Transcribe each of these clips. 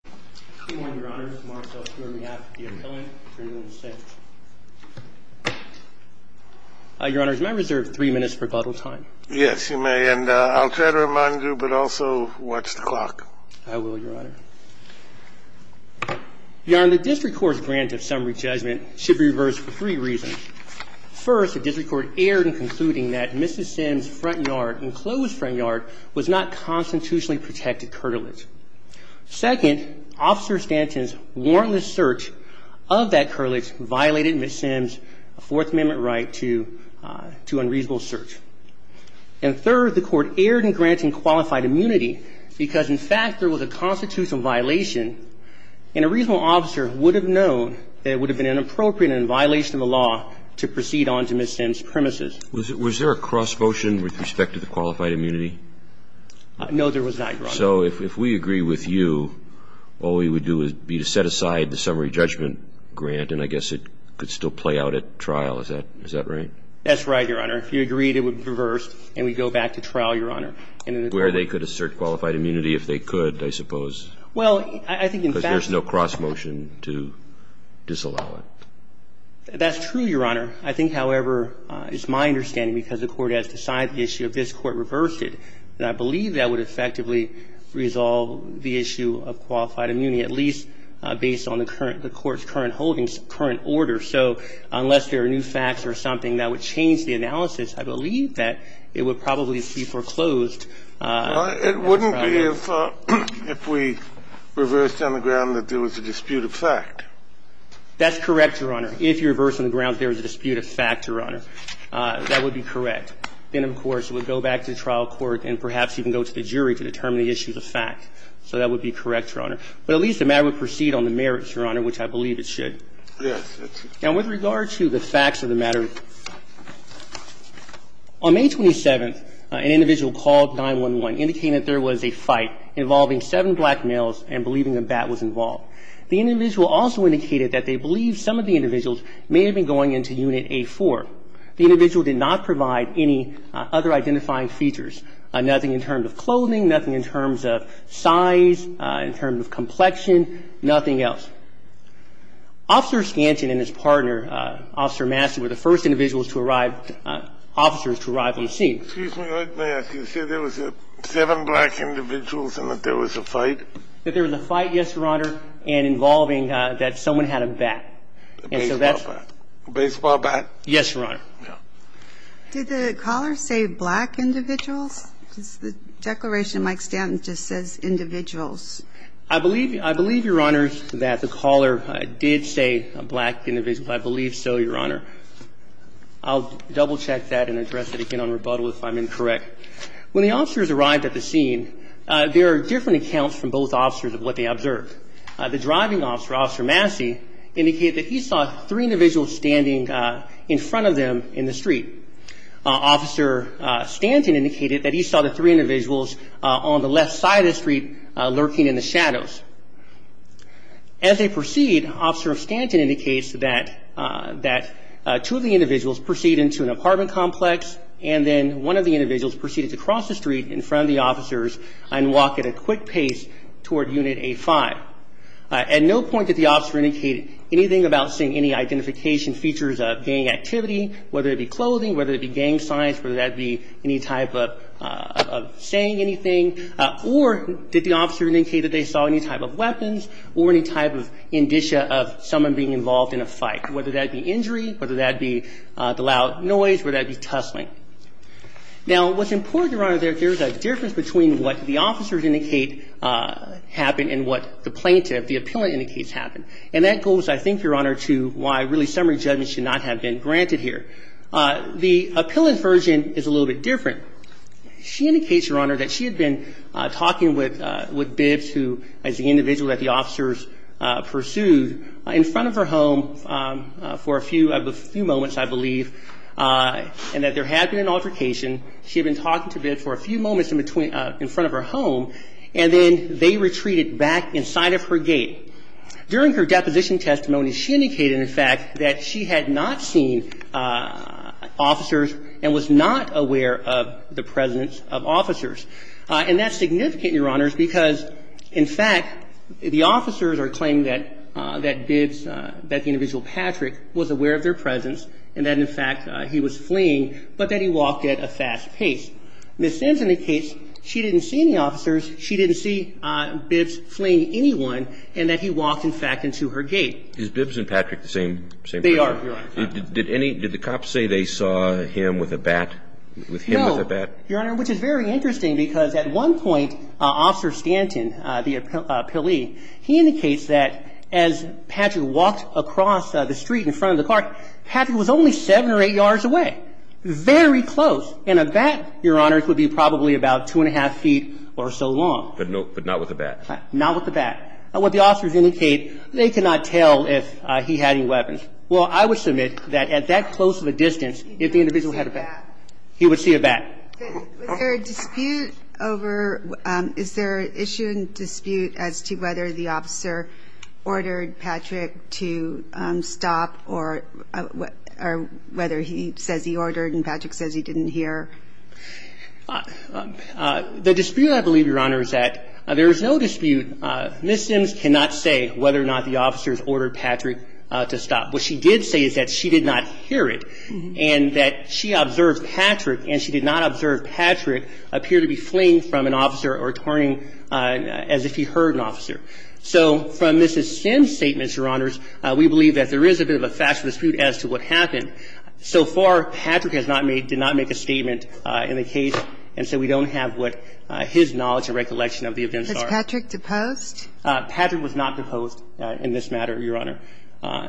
The District Court's grant of summary judgment should be reversed for three reasons. First, the District Court erred in concluding that Mrs. Sims' front yard and closed front yard was not constitutionally protected curtilage. Second, Officer Stanton's warrantless search of that curtilage violated Mrs. Sims' Fourth Amendment right to unreasonable search. And third, the Court erred in granting qualified immunity because, in fact, there was a constitutional violation and a reasonable officer would have known that it would have been inappropriate and in violation of the law to proceed on to Mrs. Sims' premises. The District Court's grant of summary judgment should be reversed for three reasons. First, the District Court erred in concluding that Mrs. Sims' front yard and closed front yard was not constitutionally protected curtilage. Second, Officer Stanton's warrantless search of that curtilage violated Mrs. Sims' Fourth Amendment right to unreasonable search. And third, Officer Stanton's warrantless search of that curtilage violated Mrs. Sims' Fourth Amendment right to unreasonable search. That's true, Your Honor. I think, however, it's my understanding, because the Court has decided the issue, if this Court reversed it, that I believe that would effectively resolve the issue of qualified immunity, at least based on the current – the Court's current holdings, current order. So unless there are new facts or something that would change the analysis, I believe that it would probably be foreclosed. It wouldn't be if we reversed on the ground that there was a dispute of fact. That's correct, Your Honor. If you reverse on the ground there was a dispute of fact, Your Honor, that would be correct. Then, of course, it would go back to trial court and perhaps even go to the jury to determine the issues of fact. So that would be correct, Your Honor. But at least the matter would proceed on the merits, Your Honor, which I believe it should. Yes, that's true. Now, with regard to the facts of the matter, on May 27th, an individual called 911, indicating that there was a fight involving seven black males and believing a bat was involved. The individual also indicated that they believed some of the individuals may have been going into Unit A4. The individual did not provide any other identifying features, nothing in terms of clothing, nothing in terms of size, in terms of complexion, nothing else. Officer Skanton and his partner, Officer Massey, were the first individuals to arrive, officers to arrive at the scene. Excuse me. May I ask, you said there was seven black individuals and that there was a fight? That there was a fight, yes, Your Honor, and involving that someone had a bat. A baseball bat. A baseball bat? Yes, Your Honor. Did the caller say black individuals? The declaration of Mike Skanton just says individuals. I believe, Your Honor, that the caller did say black individuals. I believe so, Your Honor. I'll double-check that and address it again on rebuttal if I'm incorrect. When the officers arrived at the scene, there are different accounts from both officers of what they observed. The driving officer, Officer Massey, indicated that he saw three individuals standing in front of them in the street. Officer Skanton indicated that he saw the three individuals on the left side of the street lurking in the shadows. As they proceed, Officer Skanton indicates that two of the individuals proceed into an apartment complex and then one of the individuals proceeded to cross the street in front of the officers and walk at a quick pace toward Unit A5. At no point did the officer indicate anything about seeing any identification features of gang activity, whether it be clothing, whether it be gang signs, whether that be any type of saying anything, or did the officer indicate that they saw any type of weapons or any type of indicia of someone being involved in a fight, whether that be injury, whether that be the loud noise, whether that be tussling. Now, what's important, Your Honor, there's a difference between what the officers indicate happened and what the plaintiff, the appellant, indicates happened. And that goes, I think, Your Honor, to why really summary judgment should not have been granted here. The appellant's version is a little bit different. She indicates, Your Honor, that she had been talking with Bibbs, who is the individual that the officers pursued, in front of her home for a few moments, I believe, and that there had been an altercation. She had been talking to Bibbs for a few moments in front of her home, and then they retreated back inside of her gate. During her deposition testimony, she indicated, in fact, that she had not seen officers and was not aware of the presence of officers. And that's significant, Your Honor, because, in fact, the officers are claiming that Bibbs, that the individual Patrick, was aware of their presence and that, in fact, he was fleeing, but that he walked at a fast pace. Ms. Sims indicates she didn't see any officers, she didn't see Bibbs fleeing anyone, and that he walked, in fact, into her gate. Is Bibbs and Patrick the same person? They are, Your Honor. Did the cops say they saw him with a bat, with him with a bat? Your Honor, which is very interesting, because at one point, Officer Stanton, the appellee, he indicates that as Patrick walked across the street in front of the car, Patrick was only 7 or 8 yards away. Very close. And a bat, Your Honor, would be probably about 2 1⁄2 feet or so long. But not with a bat? Not with a bat. What the officers indicate, they cannot tell if he had any weapons. Well, I would submit that at that close of a distance, if the individual had a bat, he would see a bat. Was there a dispute over ñ is there an issue and dispute as to whether the officer ordered Patrick to stop or whether he says he ordered and Patrick says he didn't hear? The dispute, I believe, Your Honor, is that there is no dispute. Ms. Sims cannot say whether or not the officers ordered Patrick to stop. What she did say is that she did not hear it and that she observed Patrick and she did not observe Patrick appear to be fleeing from an officer or turning as if he heard an officer. So from Ms. Sims' statements, Your Honors, we believe that there is a bit of a factual dispute as to what happened. So far, Patrick has not made ñ did not make a statement in the case, and so we don't have what his knowledge and recollection of the events are. Was Patrick deposed? Patrick was not deposed in this matter, Your Honor. Now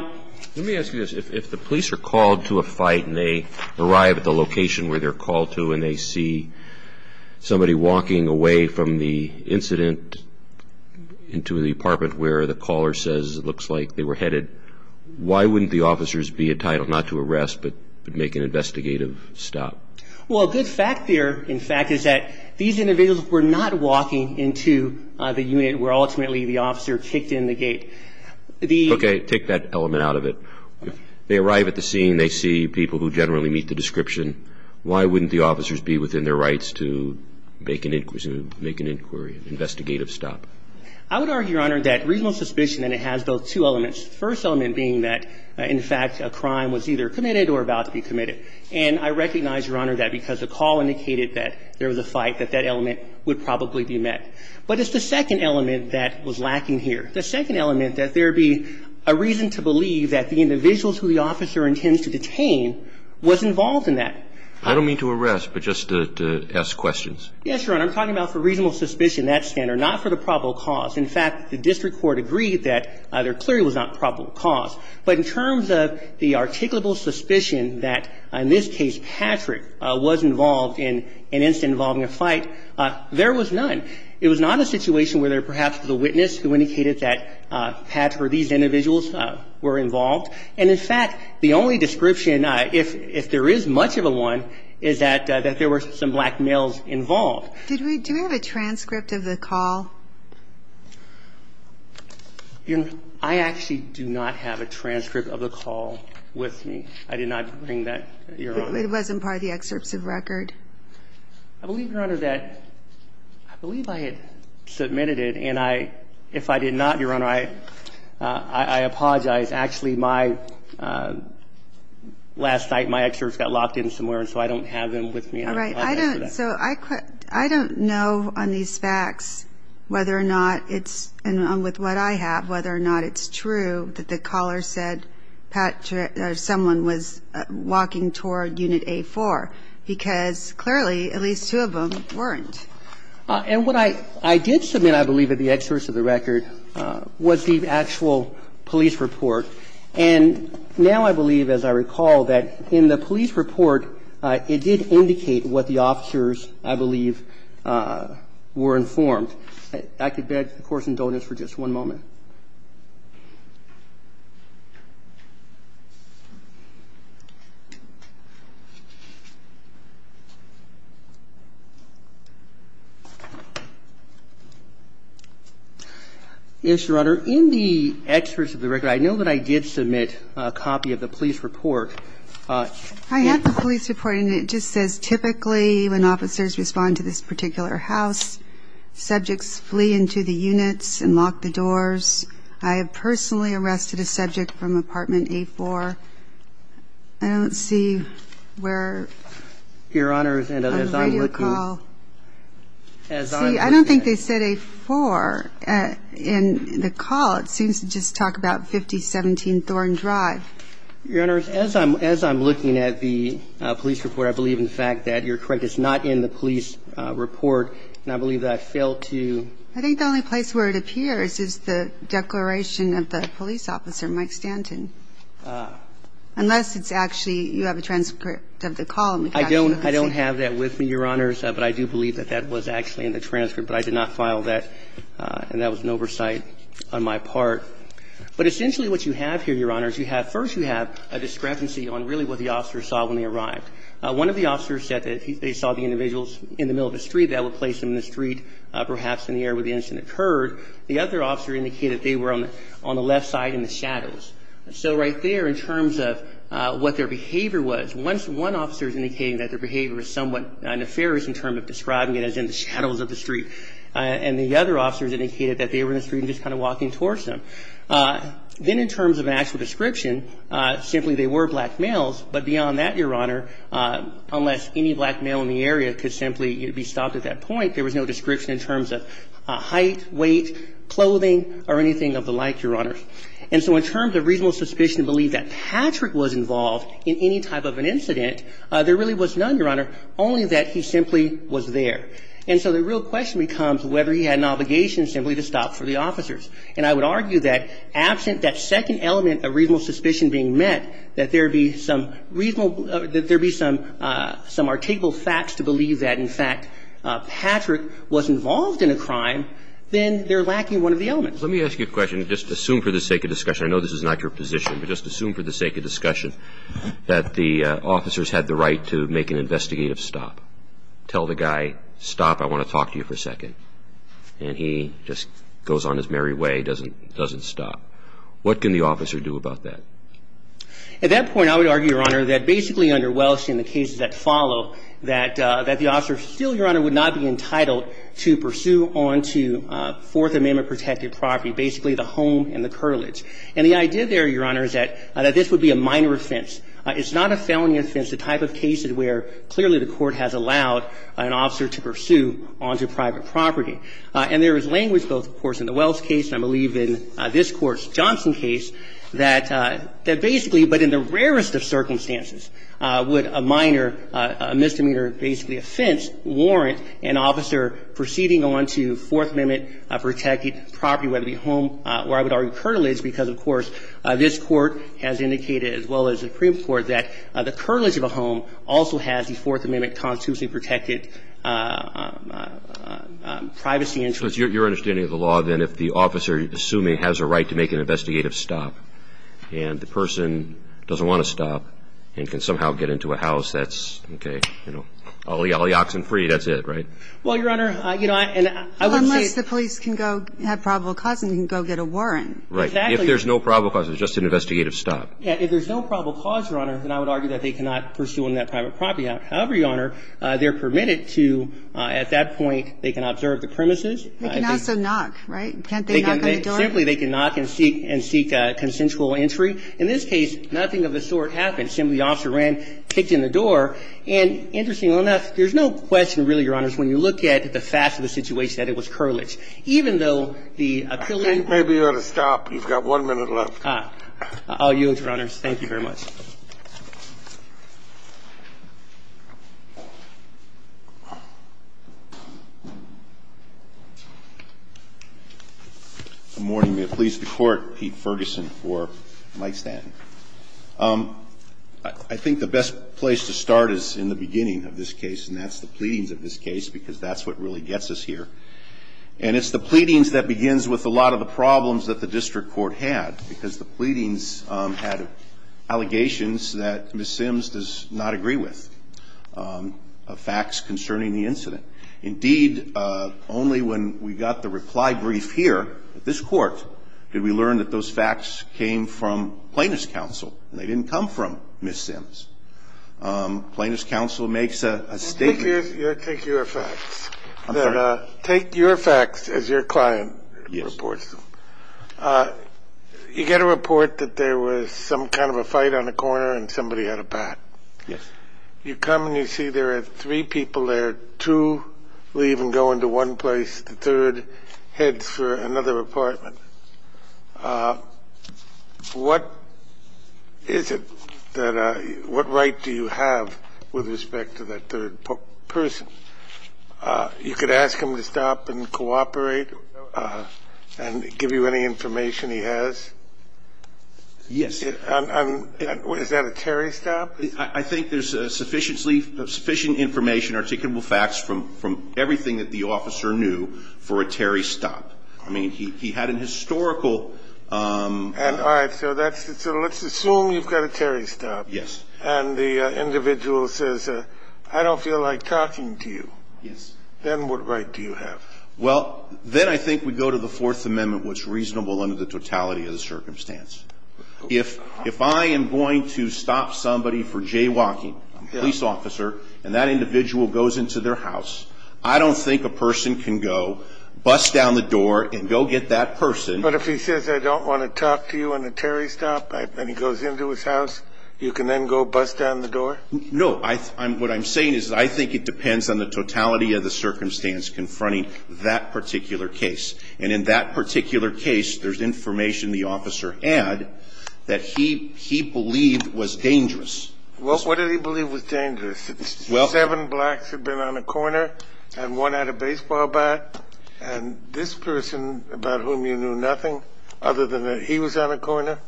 ñ Let me ask you this. If the police are called to a fight and they arrive at the location where they're called to and they see somebody walking away from the incident into the apartment where the caller says it looks like they were headed, why wouldn't the officers be entitled not to arrest but make an investigative stop? Well, a good fact there, in fact, is that these individuals were not walking into the unit where ultimately the officer kicked in the gate. The ñ Okay. Take that element out of it. They arrive at the scene. They see people who generally meet the description. Why wouldn't the officers be within their rights to make an inquiry, an investigative stop? I would argue, Your Honor, that reasonable suspicion, and it has those two elements, the first element being that, in fact, a crime was either committed or about to be committed. And I recognize, Your Honor, that because the call indicated that there was a fight, that that element would probably be met. But it's the second element that was lacking here. The second element, that there be a reason to believe that the individuals who the officer intends to detain was involved in that. I don't mean to arrest, but just to ask questions. Yes, Your Honor. I'm talking about for reasonable suspicion, that standard, not for the probable cause. In fact, the district court agreed that there clearly was not probable cause. But in terms of the articulable suspicion that, in this case, Patrick was involved in an incident involving a fight, there was none. It was not a situation where there perhaps was a witness who indicated that Patrick or these individuals were involved. And, in fact, the only description, if there is much of one, is that there were some black males involved. Do we have a transcript of the call? I actually do not have a transcript of the call with me. I did not bring that, Your Honor. It wasn't part of the excerpts of record. I believe, Your Honor, that I believe I had submitted it. And if I did not, Your Honor, I apologize. Actually, my last night, my excerpts got locked in somewhere, and so I don't have them with me. All right. So I don't know on these facts whether or not it's, and with what I have, whether or not it's true that the caller said someone was walking toward Unit A4. Because, clearly, at least two of them weren't. And what I did submit, I believe, in the excerpts of the record was the actual police report. And now I believe, as I recall, that in the police report, it did indicate what the officers, I believe, were informed. I could beg the Court's indulgence for just one moment. Yes, Your Honor, in the excerpts of the record, I know that I did submit a copy of the police report. I have the police report, and it just says, typically, when officers respond to this particular house, subjects flee into the units and lock the doors. flee into the units and lock the doors. I have personally arrested a subject from Apartment A4. I don't see where on the radio call. Your Honor, as I'm looking, as I'm looking at it. See, I don't think they said A4 in the call. It seems to just talk about 5017 Thorne Drive. Your Honor, as I'm looking at the police report, I believe, in fact, that you're correct, it's not in the police report. And I believe that I failed to. I think the only place where it appears is the declaration of the police officer, Mike Stanton. Unless it's actually, you have a transcript of the call. I don't have that with me, Your Honors. But I do believe that that was actually in the transcript. But I did not file that. And that was an oversight on my part. But essentially what you have here, Your Honors, you have, first you have a discrepancy on really what the officers saw when they arrived. One of the officers said that they saw the individuals in the middle of the street. That would place them in the street, perhaps in the area where the incident occurred. The other officer indicated they were on the left side in the shadows. So right there, in terms of what their behavior was, one officer is indicating that their behavior is somewhat nefarious in terms of describing it as in the shadows of the street. And the other officers indicated that they were in the street and just kind of walking towards them. Then in terms of an actual description, simply they were black males. But beyond that, Your Honor, unless any black male in the area could simply be stopped at that point, there was no description in terms of height, weight, clothing or anything of the like, Your Honors. And so in terms of reasonable suspicion to believe that Patrick was involved in any type of an incident, there really was none, Your Honor, only that he simply was there. And so the real question becomes whether he had an obligation simply to stop for the officers. And I would argue that absent that second element of reasonable suspicion being met, that there be some reasonable or that there be some articulable facts to believe that, in fact, Patrick was involved in a crime, then they're lacking one of the elements. Let me ask you a question. Just assume for the sake of discussion. I know this is not your position, but just assume for the sake of discussion that the officers had the right to make an investigative stop. Tell the guy, stop, I want to talk to you for a second. And he just goes on his merry way, doesn't stop. What can the officer do about that? At that point, I would argue, Your Honor, that basically under Welch and the cases that follow, that the officer still, Your Honor, would not be entitled to pursue on to Fourth Amendment-protected property, basically the home and the curtilage. And the idea there, Your Honor, is that this would be a minor offense. It's not a felony offense, the type of cases where clearly the court has allowed an officer to pursue on to private property. And there is language, of course, in the Welch case and I believe in this Court's Johnson case, that basically, but in the rarest of circumstances, would a minor misdemeanor, basically offense, warrant an officer proceeding on to Fourth Amendment-protected property, whether it be home or I would argue curtilage, because, of course, this Court has indicated, as well as the Supreme Court, that the curtilage of a home also has the Fourth Amendment-constitutionally protected privacy interest. So it's your understanding of the law, then, if the officer, assuming, has a right to make an investigative stop and the person doesn't want to stop and can somehow get into a house, that's, okay, you know, all the oxen free, that's it, right? Well, Your Honor, you know, and I would say the police can go have probable cause and can go get a warrant. Right. Exactly. If there's no probable cause, it's just an investigative stop. Yeah. If there's no probable cause, Your Honor, then I would argue that they cannot pursue on that private property. However, Your Honor, they're permitted to, at that point, they can observe the premises. They can also knock, right? Can't they knock on the door? Simply, they can knock and seek a consensual entry. In this case, nothing of the sort happened. Simply, the officer ran, kicked in the door. And interestingly enough, there's no question, really, Your Honors, when you look at the fact of the situation, that it was curtilage. Even though the appellee- I think maybe you ought to stop. You've got one minute left. I'll yield, Your Honors. Thank you very much. Good morning. May it please the Court, Pete Ferguson for Mike Stanton. I think the best place to start is in the beginning of this case, and that's the pleadings of this case, because that's what really gets us here. And it's the pleadings that begins with a lot of the problems that the district court had, because the pleadings had allegations that Ms. Sims does not agree with, facts concerning the incident. Indeed, only when we got the reply brief here at this court did we learn that those facts came from Plaintiff's counsel, and they didn't come from Ms. Sims. Plaintiff's counsel makes a statement- Take your facts. I'm sorry? Take your facts as your client reports them. You get a report that there was some kind of a fight on a corner and somebody had a bat. Yes. You come and you see there are three people there, two leave and go into one place, the third heads for another apartment. What is it that-what right do you have with respect to that third person? You could ask him to stop and cooperate and give you any information he has. Yes. Is that a Terry stop? I think there's sufficiently – sufficient information, articulable facts from everything that the officer knew for a Terry stop. I mean, he had an historical- All right. So let's assume you've got a Terry stop. Yes. And the individual says, I don't feel like talking to you. Yes. Then what right do you have? Well, then I think we go to the Fourth Amendment, what's reasonable under the totality of the circumstance. If I am going to stop somebody for jaywalking, a police officer, and that individual goes into their house, I don't think a person can go bust down the door and go get that person- But if he says, I don't want to talk to you on a Terry stop, and he goes into his house, can he go bust down the door? No. What I'm saying is I think it depends on the totality of the circumstance confronting that particular case. And in that particular case, there's information the officer had that he believed was dangerous. Well, what did he believe was dangerous? Well- Seven blacks had been on a corner, and one had a baseball bat. And this person, about whom you knew nothing other than that he was on a corner,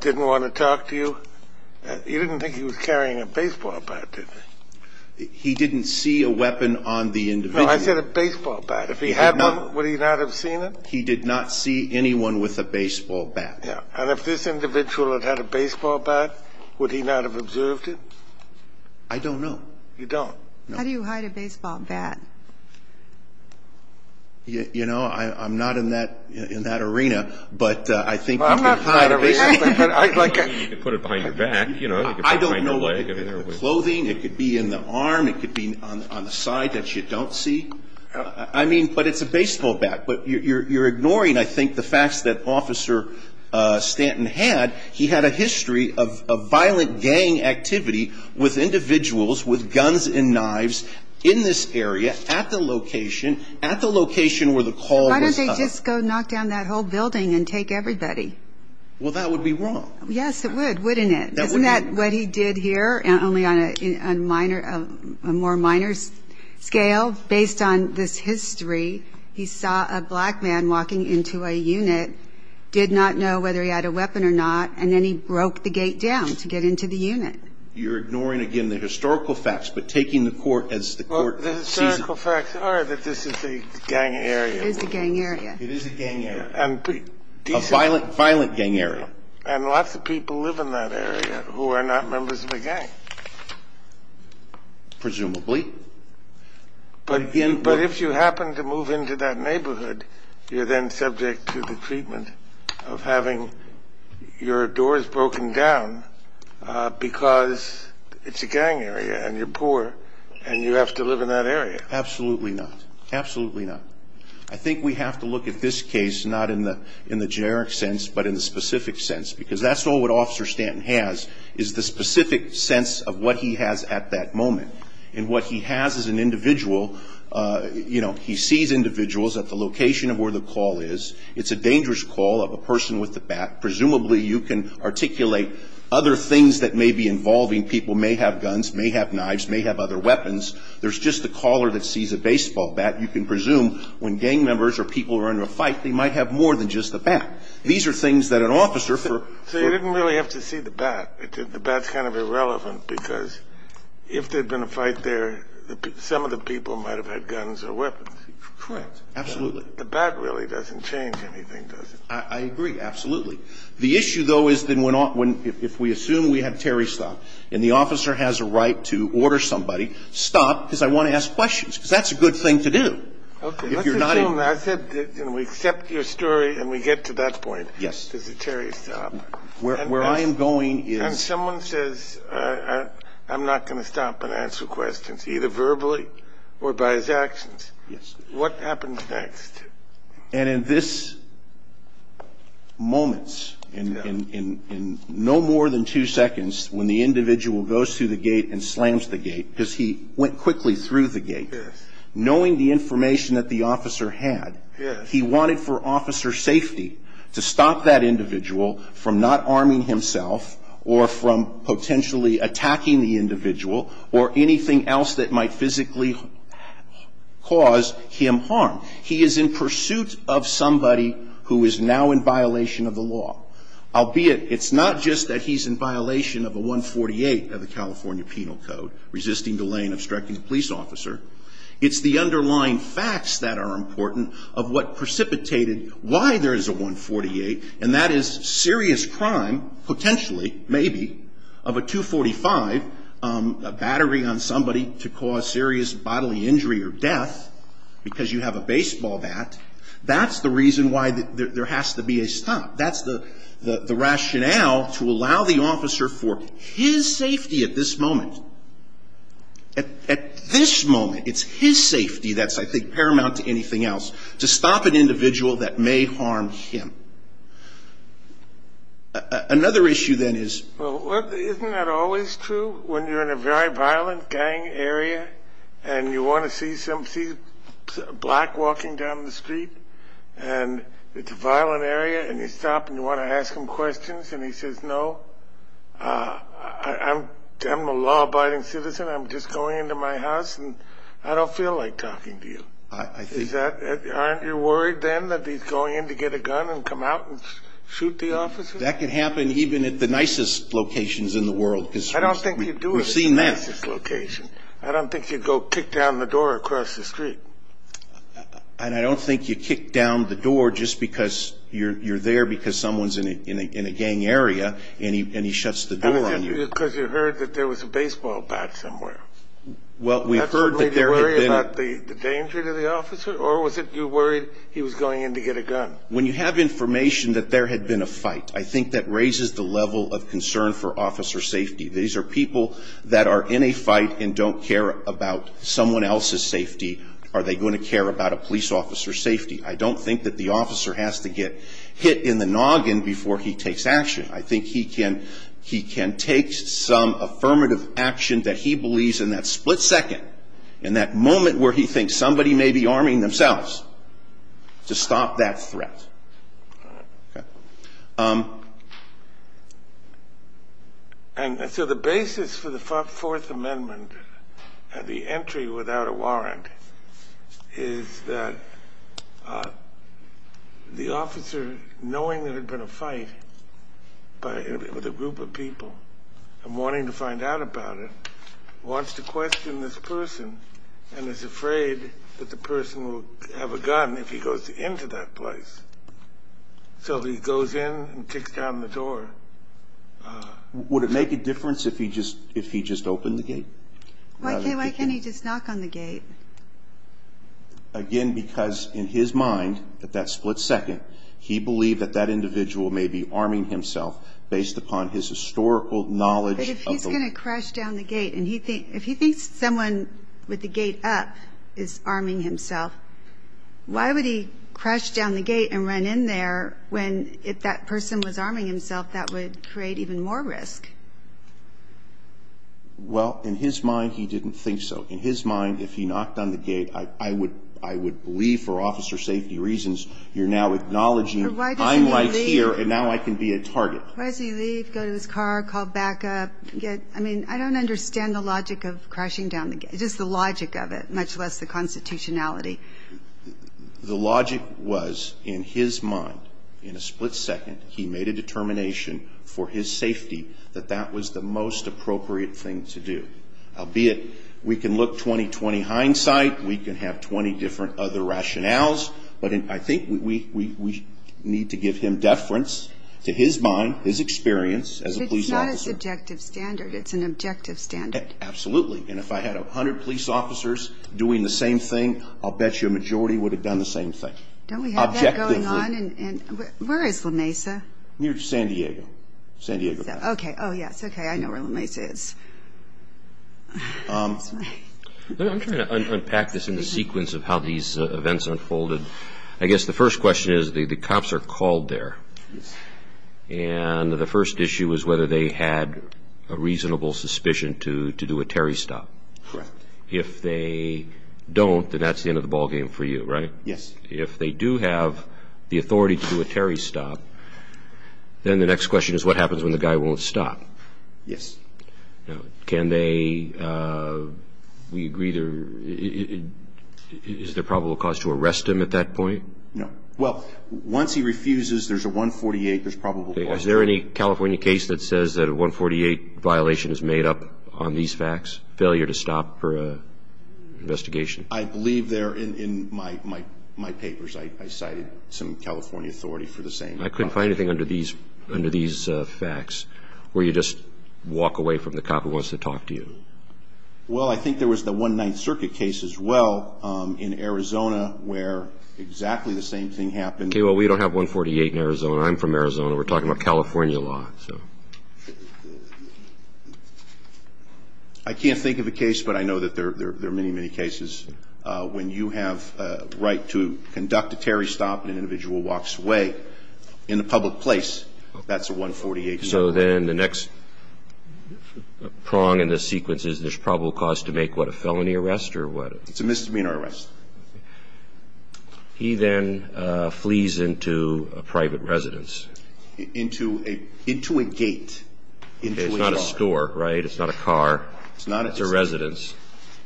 didn't want to talk to you, you didn't think he was carrying a baseball bat, did you? He didn't see a weapon on the individual. No, I said a baseball bat. If he had one, would he not have seen it? He did not see anyone with a baseball bat. Yeah. And if this individual had had a baseball bat, would he not have observed it? I don't know. You don't? No. How do you hide a baseball bat? You know, I'm not in that arena, but I think- You could put it behind your back, you know. I don't know. Clothing, it could be in the arm, it could be on the side that you don't see. I mean, but it's a baseball bat. But you're ignoring, I think, the facts that Officer Stanton had. He had a history of violent gang activity with individuals with guns and knives in this area at the location, at the location where the call was- Why don't they just go knock down that whole building and take everybody? Well, that would be wrong. Yes, it would, wouldn't it? Isn't that what he did here, only on a more minor scale? Based on this history, he saw a black man walking into a unit, did not know whether he had a weapon or not, and then he broke the gate down to get into the unit. You're ignoring, again, the historical facts, but taking the court as the court sees it. Well, the historical facts are that this is a gang area. It is a gang area. It is a gang area. A violent gang area. And lots of people live in that area who are not members of a gang. Presumably. But if you happen to move into that neighborhood, you're then subject to the treatment of having your doors broken down because it's a gang area and you're poor and you have to live in that area. Absolutely not. Absolutely not. I think we have to look at this case not in the generic sense but in the specific sense because that's all what Officer Stanton has is the specific sense of what he has at that moment. And what he has as an individual, you know, he sees individuals at the location of where the call is. It's a dangerous call of a person with a bat. Presumably you can articulate other things that may be involving people, may have guns, may have knives, may have other weapons. There's just the caller that sees a baseball bat. You can presume when gang members or people are in a fight, they might have more than just a bat. These are things that an officer for ---- So you didn't really have to see the bat. The bat's kind of irrelevant because if there had been a fight there, some of the people might have had guns or weapons. Correct. Absolutely. The bat really doesn't change anything, does it? I agree. Absolutely. The issue, though, is that if we assume we have Terry Stott and the officer has a right to order somebody, stop because I want to ask questions because that's a good thing to do. Okay. Let's assume, I said, you know, we accept your story and we get to that point. Yes. Does the Terry stop? Where I am going is ---- And someone says, I'm not going to stop and answer questions, either verbally or by his actions. Yes. What happens next? And in this moment, in no more than two seconds, when the individual goes through the gate and slams the gate, because he went quickly through the gate. Yes. Knowing the information that the officer had, he wanted for officer safety to stop that individual from not arming himself or from potentially attacking the individual or anything else that might physically cause him harm. He is in pursuit of somebody who is now in violation of the law. Albeit, it's not just that he's in violation of a 148 of the California Penal Code, resisting delay and obstructing a police officer. It's the underlying facts that are important of what precipitated why there is a 148, and that is serious crime, potentially, maybe, of a 245, a battery on somebody to cause serious bodily injury or death because you have a baseball bat. That's the reason why there has to be a stop. That's the rationale to allow the officer for his safety at this moment. At this moment, it's his safety that's, I think, paramount to anything else, to stop an individual that may harm him. Another issue, then, is isn't that always true when you're in a very violent gang area and you want to see somebody black walking down the street, and it's a violent area, and you stop and you want to ask him questions, and he says, no, I'm a law-abiding citizen. I'm just going into my house, and I don't feel like talking to you. Aren't you worried, then, that he's going in to get a gun and come out and shoot the officer? That can happen even at the nicest locations in the world. I don't think you do it at the nicest location. We've seen that. I don't think you go kick down the door across the street. And I don't think you kick down the door just because you're there, because someone's in a gang area, and he shuts the door on you. Because you heard that there was a baseball bat somewhere. Well, we've heard that there had been a... Did you worry about the danger to the officer, or was it you worried he was going in to get a gun? When you have information that there had been a fight, I think that raises the level of concern for officer safety. These are people that are in a fight and don't care about someone else's safety. Are they going to care about a police officer's safety? I don't think that the officer has to get hit in the noggin before he takes action. I think he can take some affirmative action that he believes in that split second, in that moment where he thinks somebody may be arming themselves, to stop that threat. Okay. And so the basis for the Fourth Amendment and the entry without a warrant is that the officer, knowing there had been a fight with a group of people, and wanting to find out about it, wants to question this person and is afraid that the person will have a gun if he goes into that place. So he goes in and kicks down the door. Would it make a difference if he just opened the gate? Why can't he just knock on the gate? Again, because in his mind, at that split second, he believed that that individual may be arming himself based upon his historical knowledge... If he thinks someone with the gate up is arming himself, why would he crash down the gate and run in there when if that person was arming himself that would create even more risk? Well, in his mind, he didn't think so. In his mind, if he knocked on the gate, I would believe, for officer safety reasons, you're now acknowledging, I'm right here and now I can be a target. Why does he leave, go to his car, call backup? I mean, I don't understand the logic of crashing down the gate, just the logic of it, much less the constitutionality. The logic was, in his mind, in a split second, he made a determination for his safety that that was the most appropriate thing to do. Albeit we can look 20-20 hindsight, we can have 20 different other rationales, but I think we need to give him deference to his mind, his experience as a police officer. But it's not a subjective standard, it's an objective standard. Absolutely, and if I had 100 police officers doing the same thing, I'll bet you a majority would have done the same thing. Don't we have that going on? Objectively. Where is La Mesa? Near San Diego, San Diego. Okay, oh yes, okay, I know where La Mesa is. I'm trying to unpack this in the sequence of how these events unfolded. I guess the first question is the cops are called there, and the first issue is whether they had a reasonable suspicion to do a Terry stop. Correct. If they don't, then that's the end of the ballgame for you, right? Yes. If they do have the authority to do a Terry stop, then the next question is what happens when the guy won't stop? Yes. Can they, we agree, is there probable cause to arrest him at that point? No. Well, once he refuses, there's a 148, there's probable cause. Is there any California case that says that a 148 violation is made up on these facts, failure to stop for an investigation? I believe there in my papers I cited some California authority for the same. I couldn't find anything under these facts where you just walk away from the cop who wants to talk to you. Well, I think there was the 1 Ninth Circuit case as well in Arizona where exactly the same thing happened. Okay, well, we don't have 148 in Arizona. I'm from Arizona. We're talking about California law. I can't think of a case, but I know that there are many, many cases. When you have a right to conduct a Terry stop and an individual walks away in a public place, that's a 148. So then the next prong in this sequence is there's probable cause to make what, a felony arrest or what? It's a misdemeanor arrest. Okay. He then flees into a private residence. Into a gate, into his car. It's not a store, right? It's not a car. It's not a store. It's a private residence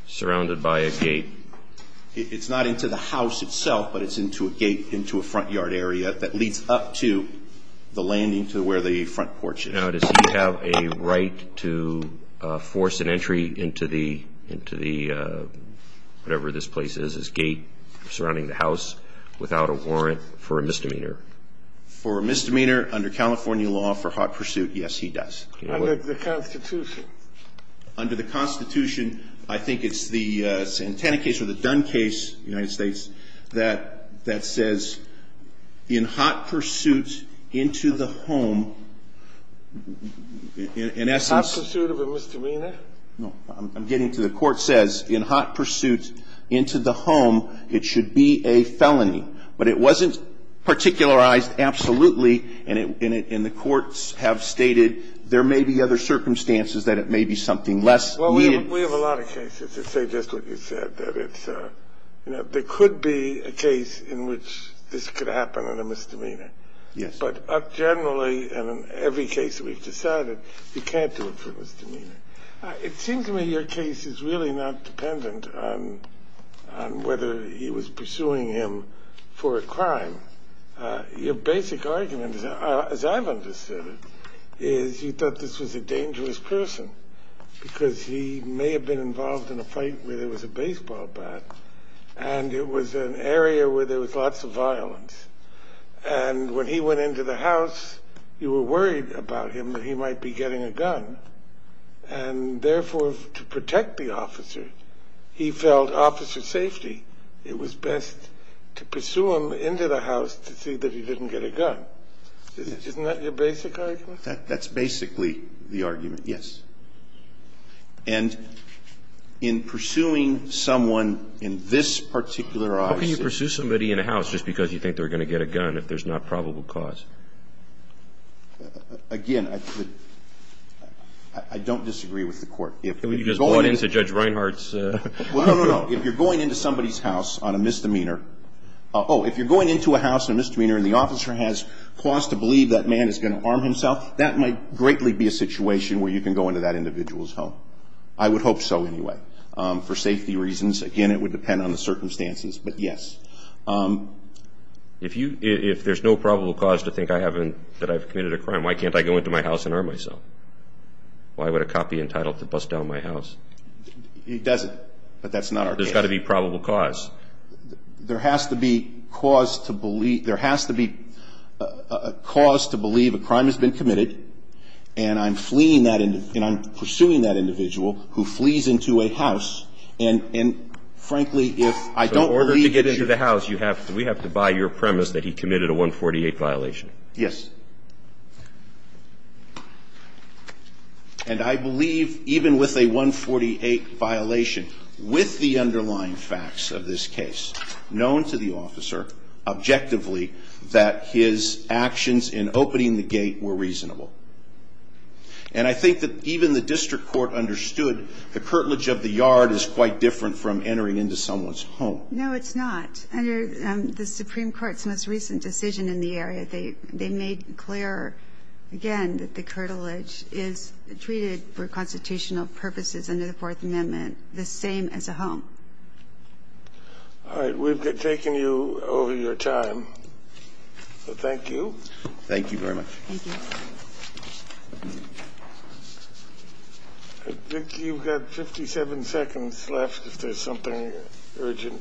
surrounded by a gate. It's not into the house itself, but it's into a gate, into a front yard area that leads up to the landing to where the front porch is. Now, does he have a right to force an entry into the, whatever this place is, his gate surrounding the house without a warrant for a misdemeanor? For a misdemeanor under California law for hot pursuit, yes, he does. Under the Constitution. Under the Constitution, I think it's the Santana case or the Dunn case, United States, that says in hot pursuit into the home, in essence. Hot pursuit of a misdemeanor? No. I'm getting to it. The Court says in hot pursuit into the home, it should be a felony. But it wasn't particularized absolutely, and the courts have stated there may be other circumstances that it may be something less needed. Well, we have a lot of cases that say just what you said, that it's, you know, there could be a case in which this could happen in a misdemeanor. Yes. But generally, in every case we've decided, you can't do it for a misdemeanor. It seems to me your case is really not dependent on whether he was pursuing him for a crime. Your basic argument, as I've understood it, is you thought this was a dangerous person because he may have been involved in a fight where there was a baseball bat. And it was an area where there was lots of violence. And when he went into the house, you were worried about him that he might be getting a gun. And therefore, to protect the officer, he felt officer safety, it was best to pursue him into the house to see that he didn't get a gun. Isn't that your basic argument? That's basically the argument, yes. And in pursuing someone in this particular office. How can you pursue somebody in a house just because you think they're going to get a gun if there's not probable cause? Again, I don't disagree with the court. You just bought into Judge Reinhart's. No, no, no. If you're going into somebody's house on a misdemeanor, oh, if you're going into a house on a misdemeanor and the officer has cause to believe that man is going to harm himself, that might greatly be a situation where you can go into that individual's home. I would hope so, anyway, for safety reasons. Again, it would depend on the circumstances, but yes. If there's no probable cause to think that I've committed a crime, why can't I go into my house and harm myself? Why would a cop be entitled to bust down my house? He doesn't, but that's not our case. There's got to be probable cause. There has to be cause to believe a crime has been committed, and I'm pursuing that individual who flees into a house. And, frankly, if I don't believe that you're... So in order to get into the house, you have to – we have to buy your premise that he committed a 148 violation. Yes. And I believe even with a 148 violation, with the underlying facts of this case, known to the officer objectively that his actions in opening the gate were reasonable. And I think that even the district court understood the curtilage of the yard is quite different from entering into someone's home. No, it's not. Under the Supreme Court's most recent decision in the area, they made clear, again, that the curtilage is treated for constitutional purposes under the Fourth Amendment the same as a home. All right. We've taken you over your time. Thank you. Thank you very much. Thank you. I think you've got 57 seconds left if there's something urgent.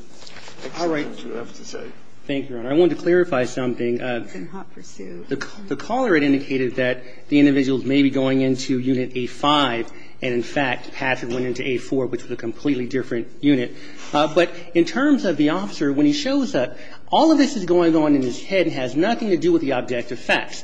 All right. You have to say. Thank you, Your Honor. I wanted to clarify something. It's in hot pursuit. The caller had indicated that the individuals may be going into Unit A-5 and, in fact, Patrick went into A-4, which was a completely different unit. But in terms of the officer, when he shows up, all of this is going on in his head and has nothing to do with the objective facts.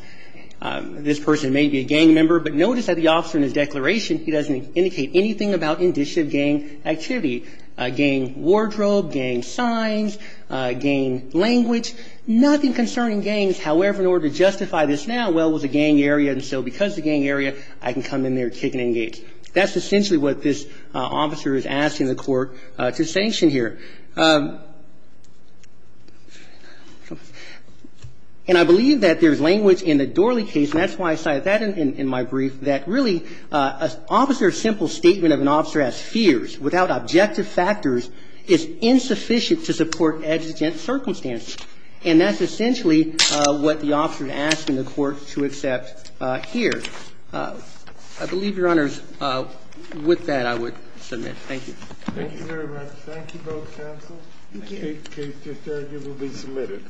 This person may be a gang member, but notice that the officer in his declaration, he doesn't indicate anything about indictive gang activity, gang wardrobe, gang signs, gang language, nothing concerning gangs. However, in order to justify this now, well, it was a gang area, and so because it's a gang area, I can come in there, kick and engage. That's essentially what this officer is asking the court to sanction here. And I believe that there's language in the Dorley case, and that's why I cited that in my brief, that really an officer's simple statement of an officer as fierce, without objective factors, is insufficient to support exigent circumstances. And that's essentially what the officer is asking the court to accept here. I believe, Your Honors, with that, I would submit. Thank you. Thank you very much. Thank you both. Thank you, counsel. Thank you. This case is arguably submitted.